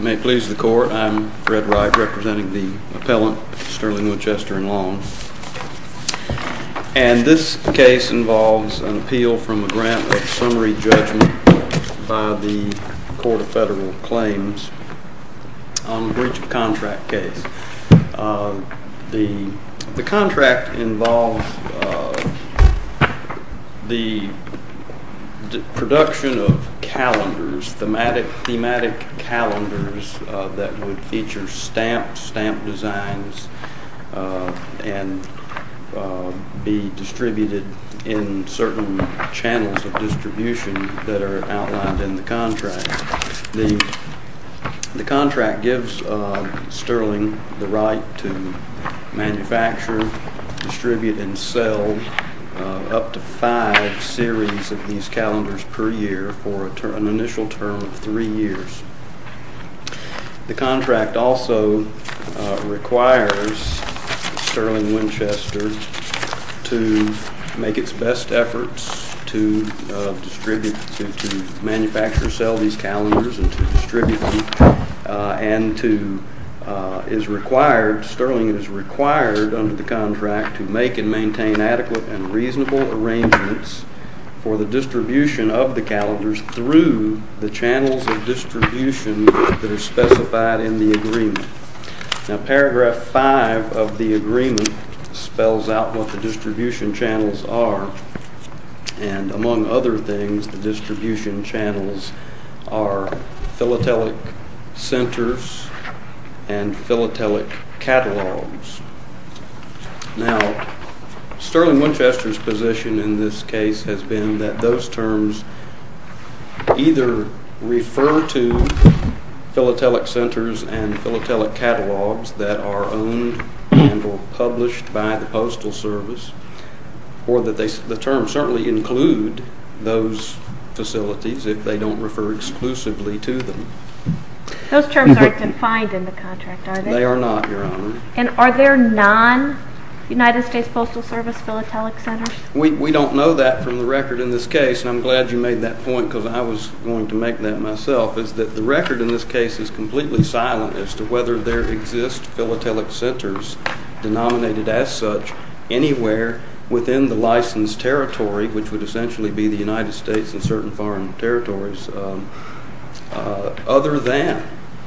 May it please the court, I'm Fred Wright, representing the appellant Sterling Winchester and Long. And this case involves an appeal from a grant of summary judgment by the Court of Federal Claims on a breach of contract case. The contract involves the production of calendars, thematic calendars that would feature stamped designs and be distributed in certain channels of distribution that are outlined in the contract. The contract gives Sterling the right to manufacture, distribute and sell up to five series of these calendars per year for an initial term of three years. The contract also requires Sterling Winchester to make its best efforts to distribute, to manufacture and sell these calendars and to distribute them. And Sterling is required under the contract to make and maintain adequate and reasonable arrangements for the distribution of the calendars through the channels of distribution that are specified in the agreement. Now paragraph five of the agreement spells out what the distribution channels are and among other things the distribution channels are philatelic centers and philatelic catalogs. Now Sterling Winchester's position in this case has been that those terms either refer to philatelic centers and philatelic catalogs that are owned and or published by the Postal Service or that the terms certainly include those facilities if they don't refer exclusively to them. Those terms aren't defined in the contract, are they? They are not, Your Honor. And are there non-United States Postal Service philatelic centers? We don't know that from the record in this case and I'm glad you made that point because I was going to make that myself. The record in this case is completely silent as to whether there exist philatelic centers denominated as such anywhere within the licensed territory, which would essentially be the United States and certain foreign territories, other than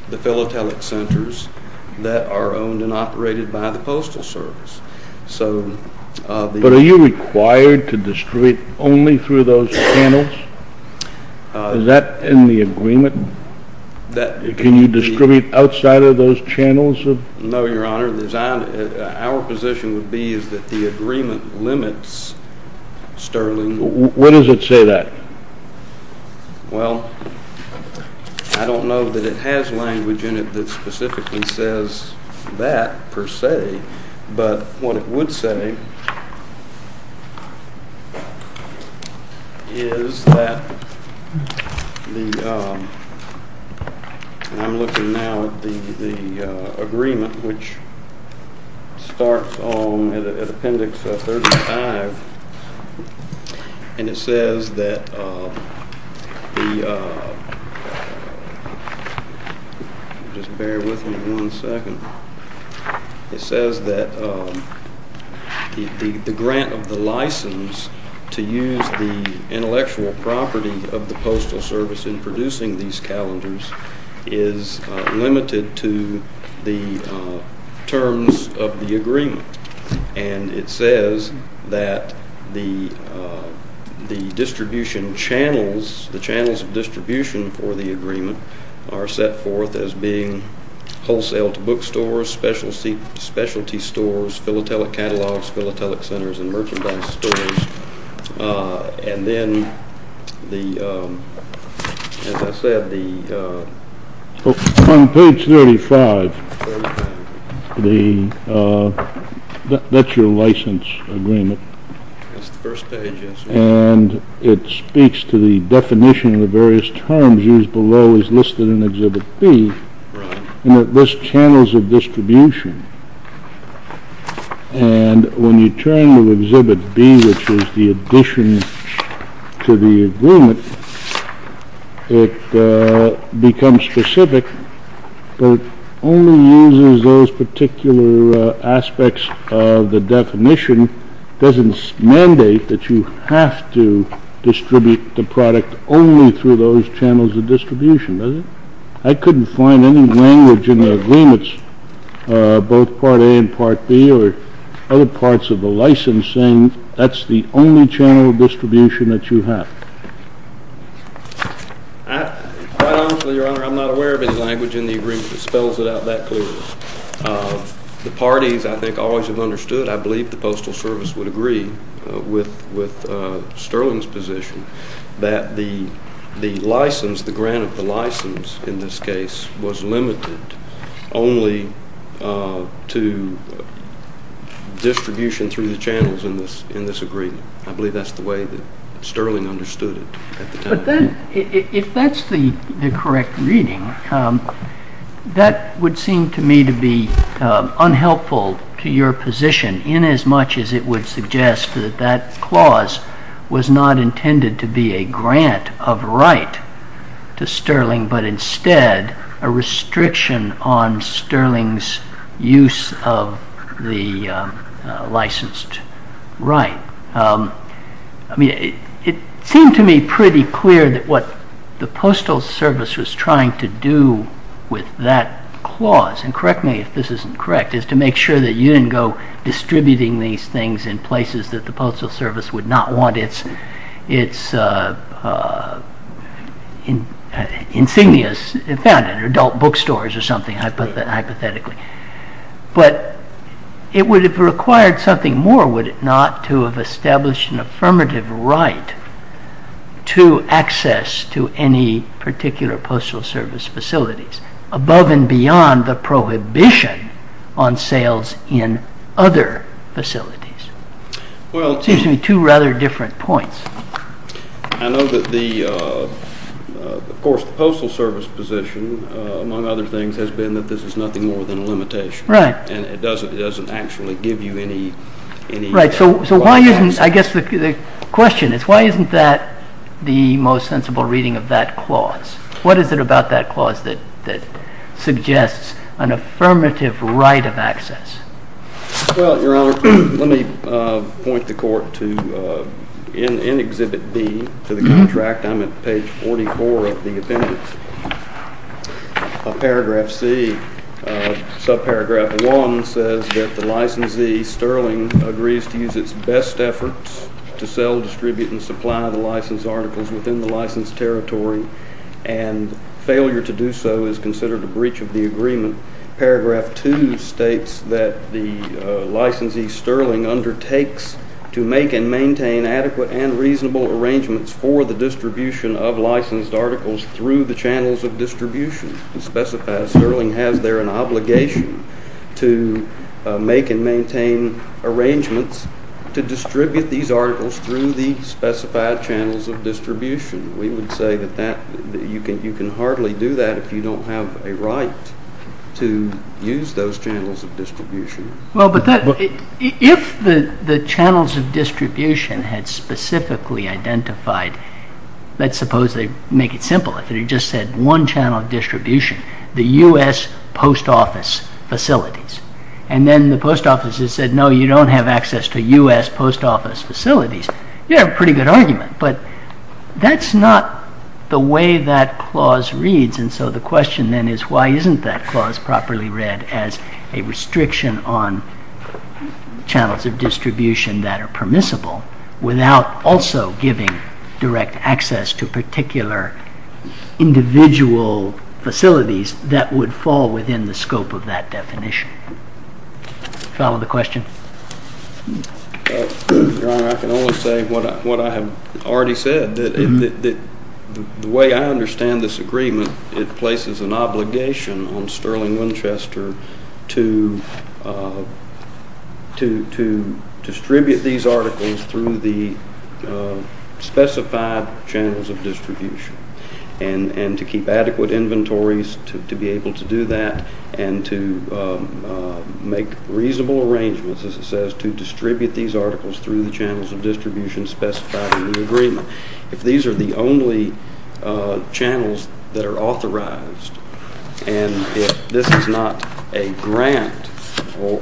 the philatelic centers that are owned and operated by the Postal Service. But are you required to distribute only through those channels? Is that in the agreement? Can you distribute outside of those channels? No, Your Honor. Our position would be that the agreement limits Sterling. When does it say that? Well, I don't know that it has language in it that specifically says that, per se. But what it would say is that the—I'm looking now at the agreement, which starts at Appendix 35, and it says that the—just bear with me one second. It says that the grant of the license to use the intellectual property of the Postal Service in producing these calendars is limited to the terms of the agreement. And it says that the distribution channels, the channels of distribution for the agreement, are set forth as being wholesale to bookstores, specialty stores, philatelic catalogs, philatelic centers, and merchandise stores. And then, as I said, the— On page 35, that's your license agreement. That's the first page, yes, Your Honor. And it speaks to the definition of the various terms used below as listed in Exhibit B. Right. And it lists channels of distribution. And when you turn to Exhibit B, which is the addition to the agreement, it becomes specific, but only uses those particular aspects of the definition. It doesn't mandate that you have to distribute the product only through those channels of distribution, does it? I couldn't find any language in the agreements, both Part A and Part B or other parts of the license, saying that's the only channel of distribution that you have. Quite honestly, Your Honor, I'm not aware of any language in the agreement that spells it out that clearly. The parties, I think, always have understood. I believe the Postal Service would agree with Sterling's position that the license, the grant of the license in this case, was limited only to distribution through the channels in this agreement. I believe that's the way that Sterling understood it at the time. If that's the correct reading, that would seem to me to be unhelpful to your position inasmuch as it would suggest that that clause was not intended to be a grant of right to Sterling, but instead a restriction on Sterling's use of the licensed right. It seemed to me pretty clear that what the Postal Service was trying to do with that clause, and correct me if this isn't correct, is to make sure that you didn't go distributing these things in places that the Postal Service would not want its insignias found in adult bookstores or something, hypothetically. But it would have required something more, would it not, to have established an affirmative right to access to any particular Postal Service facilities, above and beyond the prohibition on sales in other facilities. It seems to me two rather different points. I know that the, of course, the Postal Service position, among other things, has been that this is nothing more than a limitation. Right. And it doesn't actually give you any... Right, so why isn't, I guess the question is, why isn't that the most sensible reading of that clause? What is it about that clause that suggests an affirmative right of access? Well, Your Honor, let me point the Court to, in Exhibit B, to the contract. I'm at page 44 of the appendix. Paragraph C, subparagraph 1, says that the licensee, Sterling, agrees to use its best efforts to sell, distribute, and supply the licensed articles within the licensed territory, and failure to do so is considered a breach of the agreement. Paragraph 2 states that the licensee, Sterling, undertakes to make and maintain adequate and reasonable arrangements for the distribution of licensed articles through the channels of distribution. It specifies Sterling has there an obligation to make and maintain arrangements to distribute these articles through the specified channels of distribution. We would say that you can hardly do that if you don't have a right to use those channels of distribution. Well, but if the channels of distribution had specifically identified, let's suppose they make it simple, if they just said one channel of distribution, the U.S. post office facilities, and then the post offices said, no, you don't have access to U.S. post office facilities, you have a pretty good argument, but that's not the way that clause reads, and so the question then is why isn't that clause properly read as a restriction on channels of distribution that are permissible without also giving direct access to particular individual facilities that would fall within the scope of that definition. Follow the question? Your Honor, I can only say what I have already said, that the way I understand this agreement, it places an obligation on Sterling Winchester to distribute these articles through the specified channels of distribution and to keep adequate inventories to be able to do that and to make reasonable arrangements, as it says, to distribute these articles through the channels of distribution specified in the agreement. If these are the only channels that are authorized and if this is not a grant, or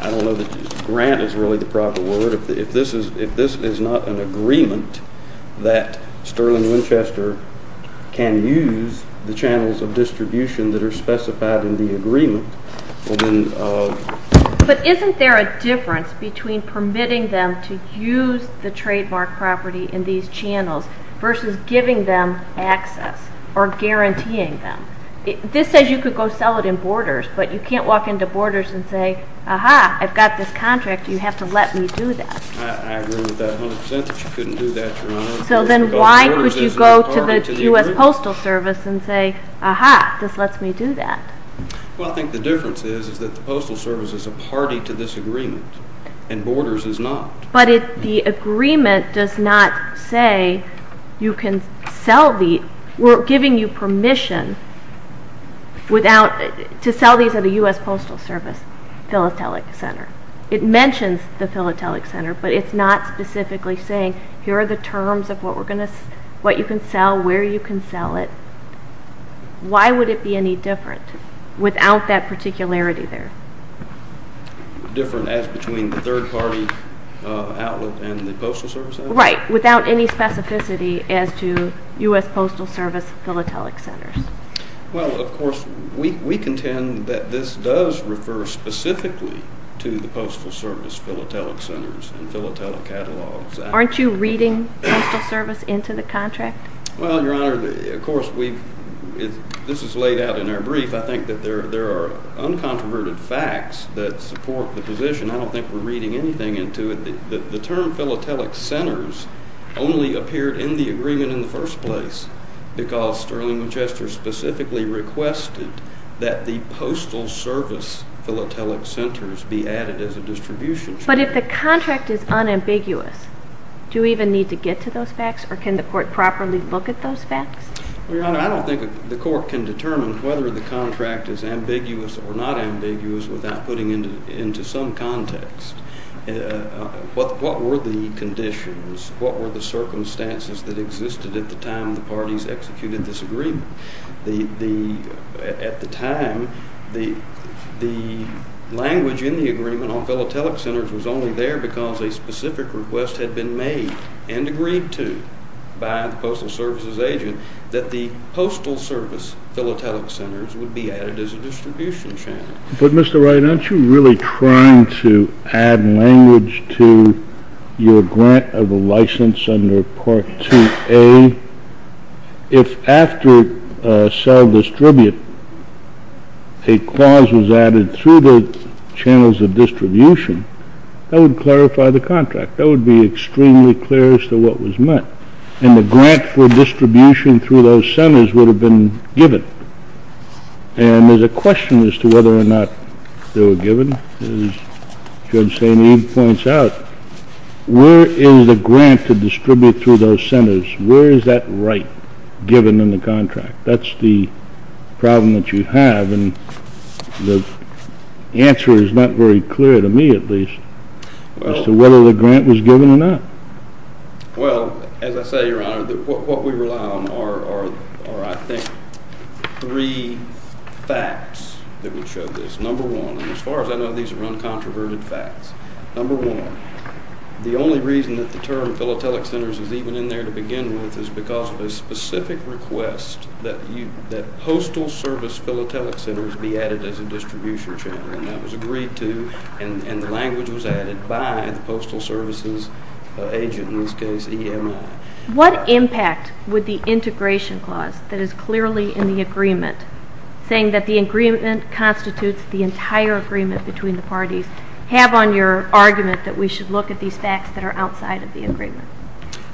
I don't know if grant is really the proper word, but if this is not an agreement that Sterling Winchester can use the channels of distribution that are specified in the agreement... But isn't there a difference between permitting them to use the trademark property in these channels versus giving them access or guaranteeing them? This says you could go sell it in borders, but you can't walk into borders and say, Aha, I've got this contract, you have to let me do that. I agree with that 100% that you couldn't do that, Your Honor. So then why would you go to the U.S. Postal Service and say, Aha, this lets me do that? Well, I think the difference is that the Postal Service is a party to this agreement and borders is not. But the agreement does not say you can sell these. We're giving you permission to sell these at a U.S. Postal Service philatelic center. It mentions the philatelic center, but it's not specifically saying, Here are the terms of what you can sell, where you can sell it. Why would it be any different without that particularity there? Different as between the third-party outlet and the Postal Service outlet? Right, without any specificity as to U.S. Postal Service philatelic centers. Well, of course, we contend that this does refer specifically to the Postal Service philatelic centers and philatelic catalogs. Aren't you reading Postal Service into the contract? Well, Your Honor, of course, this is laid out in our brief. I think that there are uncontroverted facts that support the position. I don't think we're reading anything into it. The term philatelic centers only appeared in the agreement in the first place because Sterling Winchester specifically requested that the Postal Service philatelic centers be added as a distribution. But if the contract is unambiguous, do we even need to get to those facts, or can the court properly look at those facts? Well, Your Honor, I don't think the court can determine whether the contract is ambiguous or not ambiguous without putting it into some context. What were the conditions, what were the circumstances that existed at the time the parties executed this agreement? At the time, the language in the agreement on philatelic centers was only there because a specific request had been made and agreed to by the Postal Services agent that the Postal Service philatelic centers would be added as a distribution channel. But, Mr. Wright, aren't you really trying to add language to your grant of a license under Part 2A? If after sell-distribute a clause was added through the channels of distribution, that would clarify the contract. That would be extremely clear as to what was meant. And the grant for distribution through those centers would have been given. And there's a question as to whether or not they were given. As Judge St. Eve points out, where is the grant to distribute through those centers? Where is that right given in the contract? That's the problem that you have, and the answer is not very clear, to me at least, as to whether the grant was given or not. Well, as I say, Your Honor, what we rely on are, I think, three facts that would show this. Number one, and as far as I know, these are uncontroverted facts. Number one, the only reason that the term philatelic centers is even in there to begin with is because of a specific request that postal service philatelic centers be added as a distribution channel. And that was agreed to, and the language was added by the Postal Services agent, in this case, EMI. What impact would the integration clause that is clearly in the agreement, saying that the agreement constitutes the entire agreement between the parties, have on your argument that we should look at these facts that are outside of the agreement?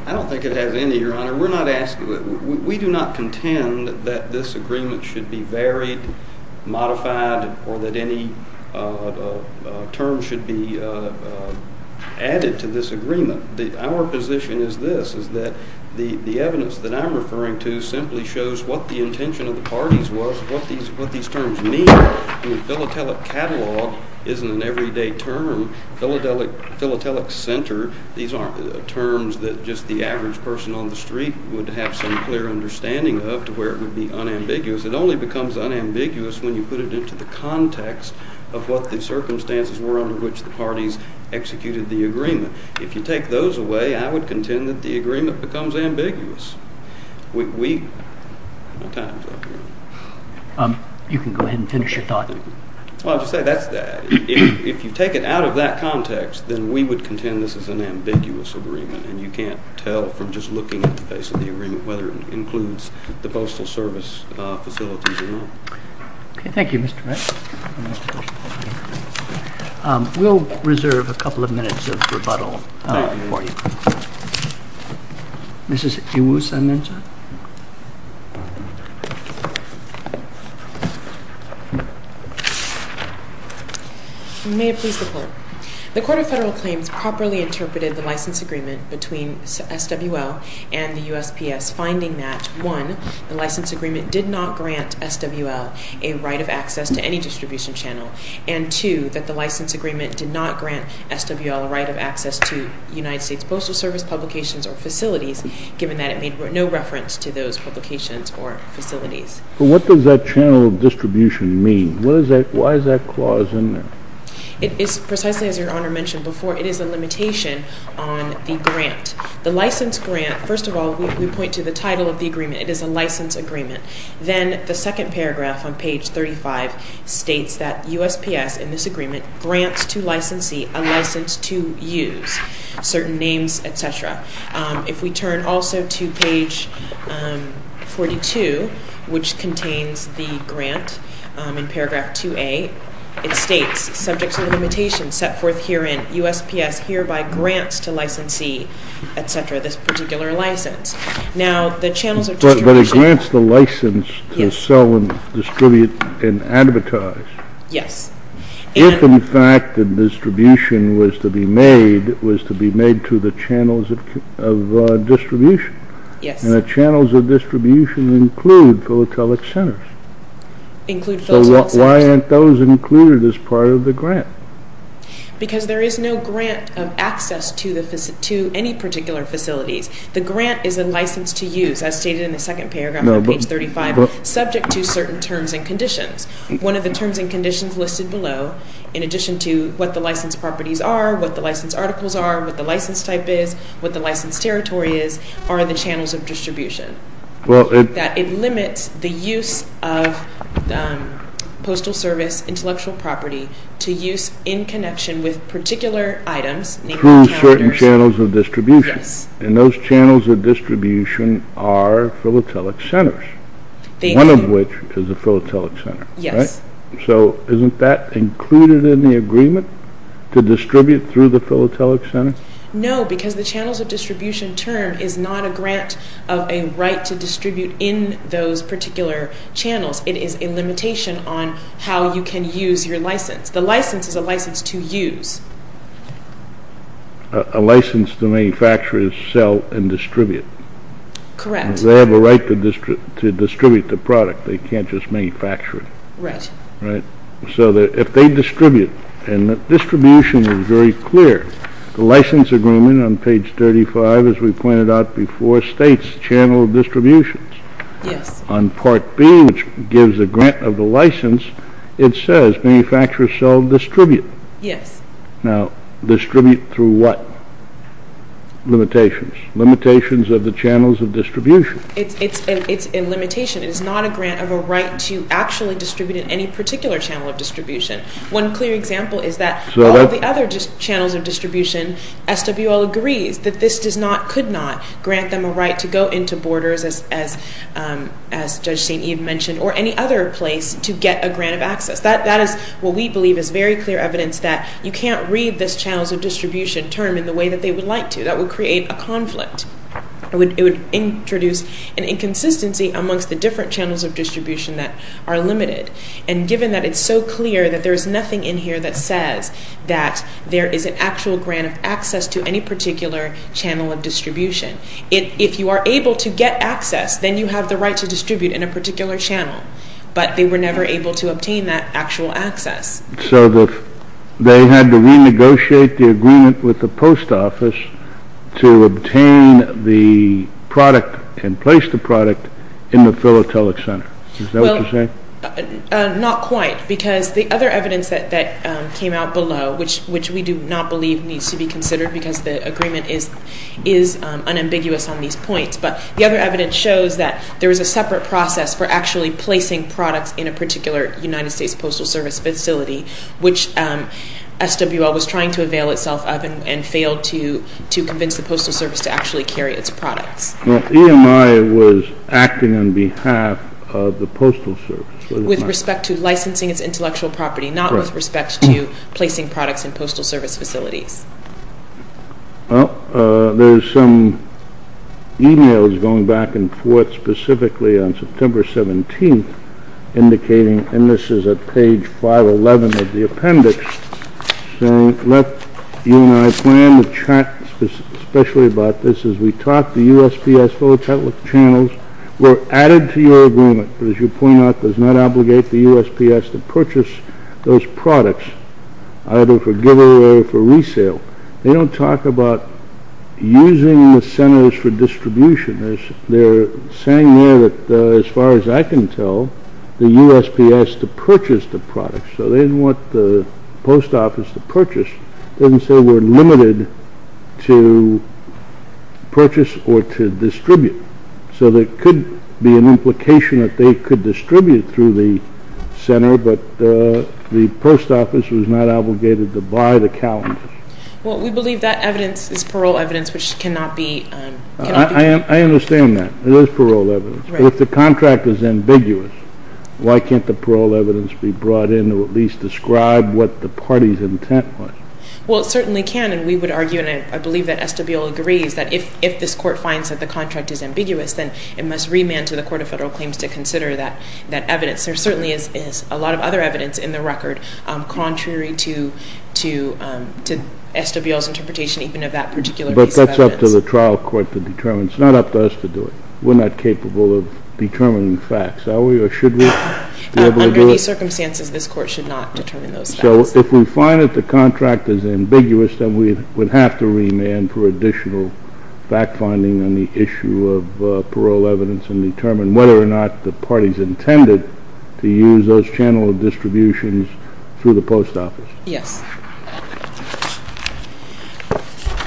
I don't think it has any, Your Honor. We do not contend that this agreement should be varied, modified, or that any terms should be added to this agreement. Our position is this, is that the evidence that I'm referring to simply shows what the intention of the parties was, what these terms mean. I mean, philatelic catalog isn't an everyday term. Philatelic center, these aren't terms that just the average person on the street would have some clear understanding of to where it would be unambiguous. It only becomes unambiguous when you put it into the context of what the circumstances were under which the parties executed the agreement. If you take those away, I would contend that the agreement becomes ambiguous. My time's up here. You can go ahead and finish your thought. Well, I'll just say, if you take it out of that context, then we would contend this is an ambiguous agreement, and you can't tell from just looking at the face of the agreement whether it includes the Postal Service facilities or not. Okay, thank you, Mr. Wright. We'll reserve a couple of minutes of rebuttal for you. Mrs. Iwusa-Ninja? May it please the Court. The Court of Federal Claims properly interpreted the license agreement between SWL and the USPS, finding that, one, the license agreement did not grant SWL a right of access to any distribution channel, and, two, that the license agreement did not grant SWL a right of access to United States Postal Service publications or facilities, given that it made no reference to those publications or facilities. What does that channel of distribution mean? Why is that clause in there? It is, precisely as Your Honor mentioned before, it is a limitation on the grant. The license grant, first of all, we point to the title of the agreement. It is a license agreement. Then the second paragraph on page 35 states that USPS, in this agreement, grants to licensee a license to use, certain names, etc. If we turn also to page 42, which contains the grant in paragraph 2A, it states, subject to the limitation set forth herein, USPS hereby grants to licensee, etc., this particular license. Now, the channels of distribution... But it grants the license to sell and distribute and advertise. Yes. If, in fact, the distribution was to be made to the channels of distribution. Yes. And the channels of distribution include philatelic centers. Include philatelic centers. Why aren't those included as part of the grant? Because there is no grant of access to any particular facilities. The grant is a license to use, as stated in the second paragraph on page 35, subject to certain terms and conditions. One of the terms and conditions listed below, in addition to what the license properties are, what the license articles are, what the license type is, what the license territory is, are the channels of distribution. It limits the use of postal service intellectual property to use in connection with particular items. Through certain channels of distribution. Yes. And those channels of distribution are philatelic centers. One of which is a philatelic center. Yes. So isn't that included in the agreement to distribute through the philatelic center? No, because the channels of distribution term is not a grant of a right to distribute in those particular channels. It is a limitation on how you can use your license. The license is a license to use. A license to manufacture is sell and distribute. Correct. They have a right to distribute the product. They can't just manufacture it. Right. Right. So if they distribute, and the distribution is very clear. The license agreement on page 35, as we pointed out before, states channel distributions. Yes. On part B, which gives a grant of the license, it says manufacture, sell, distribute. Yes. Now, distribute through what? Limitations. Limitations of the channels of distribution. It's a limitation. It is not a grant of a right to actually distribute in any particular channel of distribution. One clear example is that all of the other channels of distribution, SWL agrees that this does not, could not, grant them a right to go into borders, as Judge St. Ian mentioned, or any other place to get a grant of access. That is what we believe is very clear evidence that you can't read this channels of distribution term in the way that they would like to. That would create a conflict. It would introduce an inconsistency amongst the different channels of distribution that are limited. And given that it's so clear that there is nothing in here that says that there is an actual grant of access to any particular channel of distribution. If you are able to get access, then you have the right to distribute in a particular channel. But they were never able to obtain that actual access. So they had to renegotiate the agreement with the post office to obtain the product and place the product in the philatelic center. Is that what you're saying? Well, not quite. Because the other evidence that came out below, which we do not believe needs to be considered because the agreement is unambiguous on these points. But the other evidence shows that there is a separate process for actually placing products in a particular United States Postal Service facility, which SWL was trying to avail itself of and failed to convince the Postal Service to actually carry its products. Well, EMI was acting on behalf of the Postal Service. With respect to licensing its intellectual property, not with respect to placing products in Postal Service facilities. Well, there's some e-mails going back and forth specifically on September 17th, indicating, and this is at page 511 of the appendix, saying, let you and I plan to chat especially about this as we talk. The USPS philatelic channels were added to your agreement, as you point out, does not obligate the USPS to purchase those products, either for giver or for resale. They don't talk about using the centers for distribution. They're saying there that, as far as I can tell, the USPS to purchase the products. So they didn't want the Post Office to purchase. It doesn't say we're limited to purchase or to distribute. So there could be an implication that they could distribute through the center, but the Post Office was not obligated to buy the calendars. Well, we believe that evidence is parole evidence, which cannot be... I understand that. It is parole evidence. But if the contract is ambiguous, why can't the parole evidence be brought in to at least describe what the party's intent was? Well, it certainly can. And we would argue, and I believe that SWL agrees, that if this court finds that the contract is ambiguous, then it must remand to the Court of Federal Claims to consider that evidence. There certainly is a lot of other evidence in the record contrary to SWL's interpretation even of that particular piece of evidence. But that's up to the trial court to determine. It's not up to us to do it. We're not capable of determining facts, are we, or should we be able to do it? Under these circumstances, this court should not determine those facts. So if we find that the contract is ambiguous, then we would have to remand for additional fact-finding on the issue of parole evidence and determine whether or not the party's intended to use those channel distributions through the Post Office. Yes.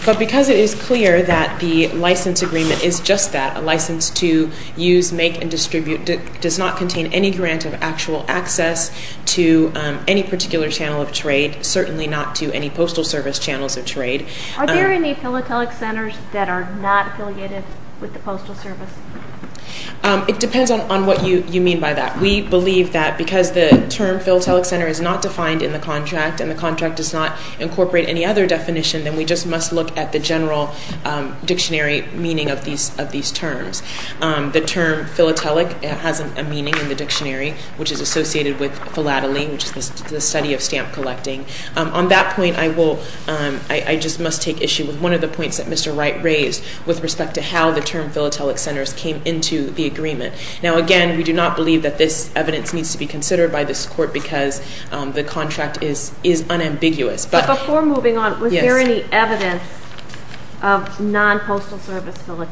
But because it is clear that the license agreement is just that, a license to use, make, and distribute, it does not contain any grant of actual access to any particular channel of trade, certainly not to any Postal Service channels of trade. Are there any philatelic centers that are not affiliated with the Postal Service? It depends on what you mean by that. We believe that because the term philatelic center is not defined in the contract and the contract does not incorporate any other definition, then we just must look at the general dictionary meaning of these terms. The term philatelic has a meaning in the dictionary, which is associated with philately, which is the study of stamp collecting. On that point, I just must take issue with one of the points that Mr. Wright raised with respect to how the term philatelic centers came into the agreement. Now, again, we do not believe that this evidence needs to be considered by this court because the contract is unambiguous. But before moving on, was there any evidence of non-Postal Service philatelic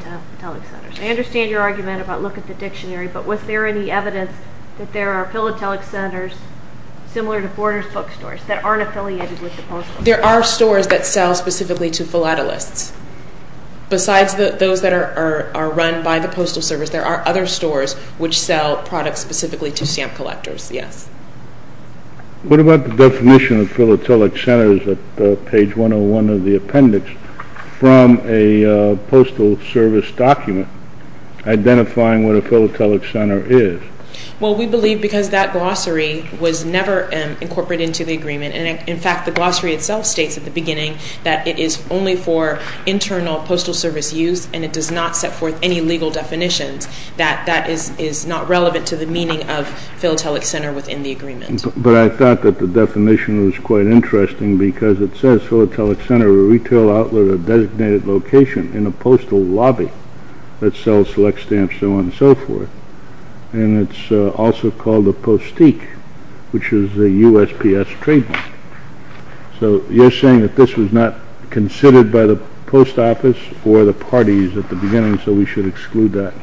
centers? I understand your argument about look at the dictionary, but was there any evidence that there are philatelic centers similar to borders bookstores that aren't affiliated with the Postal Service? There are stores that sell specifically to philatelists. Besides those that are run by the Postal Service, there are other stores which sell products specifically to stamp collectors, yes. What about the definition of philatelic centers at page 101 of the appendix? From a Postal Service document identifying what a philatelic center is. Well, we believe because that glossary was never incorporated into the agreement, and in fact the glossary itself states at the beginning that it is only for internal Postal Service use and it does not set forth any legal definitions, that that is not relevant to the meaning of philatelic center within the agreement. But I thought that the definition was quite interesting because it says philatelic center, a retail outlet, a designated location in a postal lobby that sells select stamps, so on and so forth, and it's also called a postique, which is a USPS trademark. So you're saying that this was not considered by the post office or the parties at the beginning, so we should exclude that?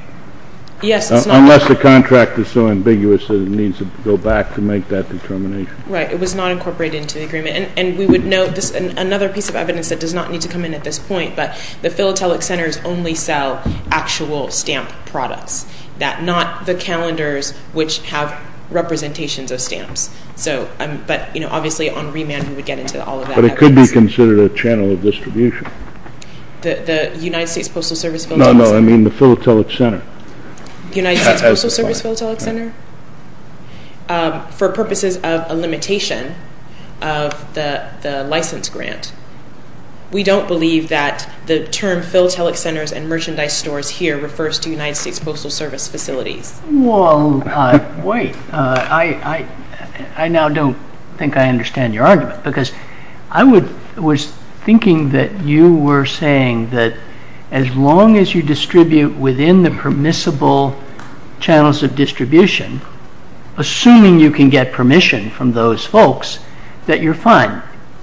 Yes, it's not. Unless the contract is so ambiguous that it needs to go back to make that determination. Right, it was not incorporated into the agreement, and we would note another piece of evidence that does not need to come in at this point, but the philatelic centers only sell actual stamp products, not the calendars which have representations of stamps. But obviously on remand we would get into all of that evidence. But it could be considered a channel of distribution. The United States Postal Service philatelic center? No, no, I mean the philatelic center. The United States Postal Service philatelic center? For purposes of a limitation of the license grant, we don't believe that the term philatelic centers and merchandise stores here refers to the United States Postal Service facilities. Well, wait, I now don't think I understand your argument, because I was thinking that you were saying that as long as you distribute within the permissible channels of distribution, assuming you can get permission from those folks, that you're fine.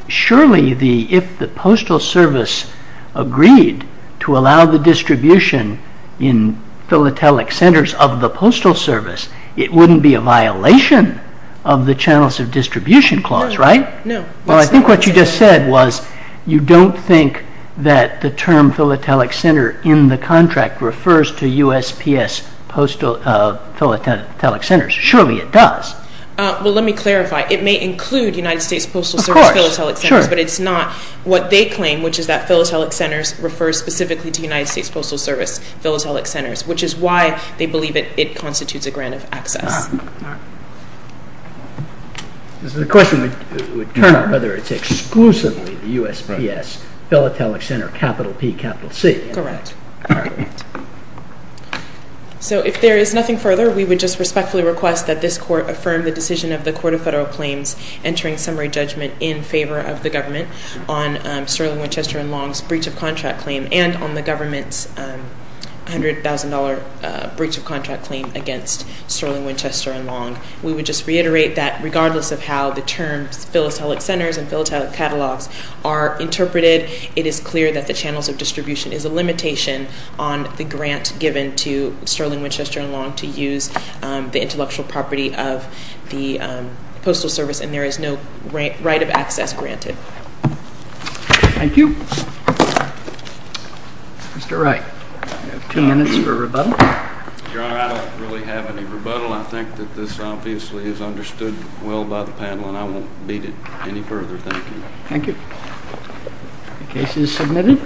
Surely if the Postal Service agreed to allow the distribution in philatelic centers of the Postal Service, it wouldn't be a violation of the channels of distribution clause, right? Well, I think what you just said was you don't think that the term philatelic center in the contract refers to USPS philatelic centers. Surely it does. Well, let me clarify. It may include United States Postal Service philatelic centers, but it's not what they claim, which is that philatelic centers refers specifically to United States Postal Service philatelic centers, which is why they believe it constitutes a grant of access. The question would turn up whether it's exclusively the USPS philatelic center, capital P, capital C. Correct. So if there is nothing further, we would just respectfully request that this court affirm the decision of the Court of Federal Claims entering summary judgment in favor of the government on Sterling Winchester and Long's breach of contract claim and on the government's $100,000 breach of contract claim against Sterling Winchester and Long. We would just reiterate that regardless of how the terms philatelic centers and philatelic catalogs are interpreted, it is clear that the channels of distribution is a limitation on the grant given to Sterling Winchester and Long to use the intellectual property of the Postal Service, and there is no right of access granted. Thank you. Mr. Wright, two minutes for rebuttal. Your Honor, I don't really have any rebuttal. I think that this obviously is understood well by the panel, and I won't beat it any further. Thank you. The case is submitted.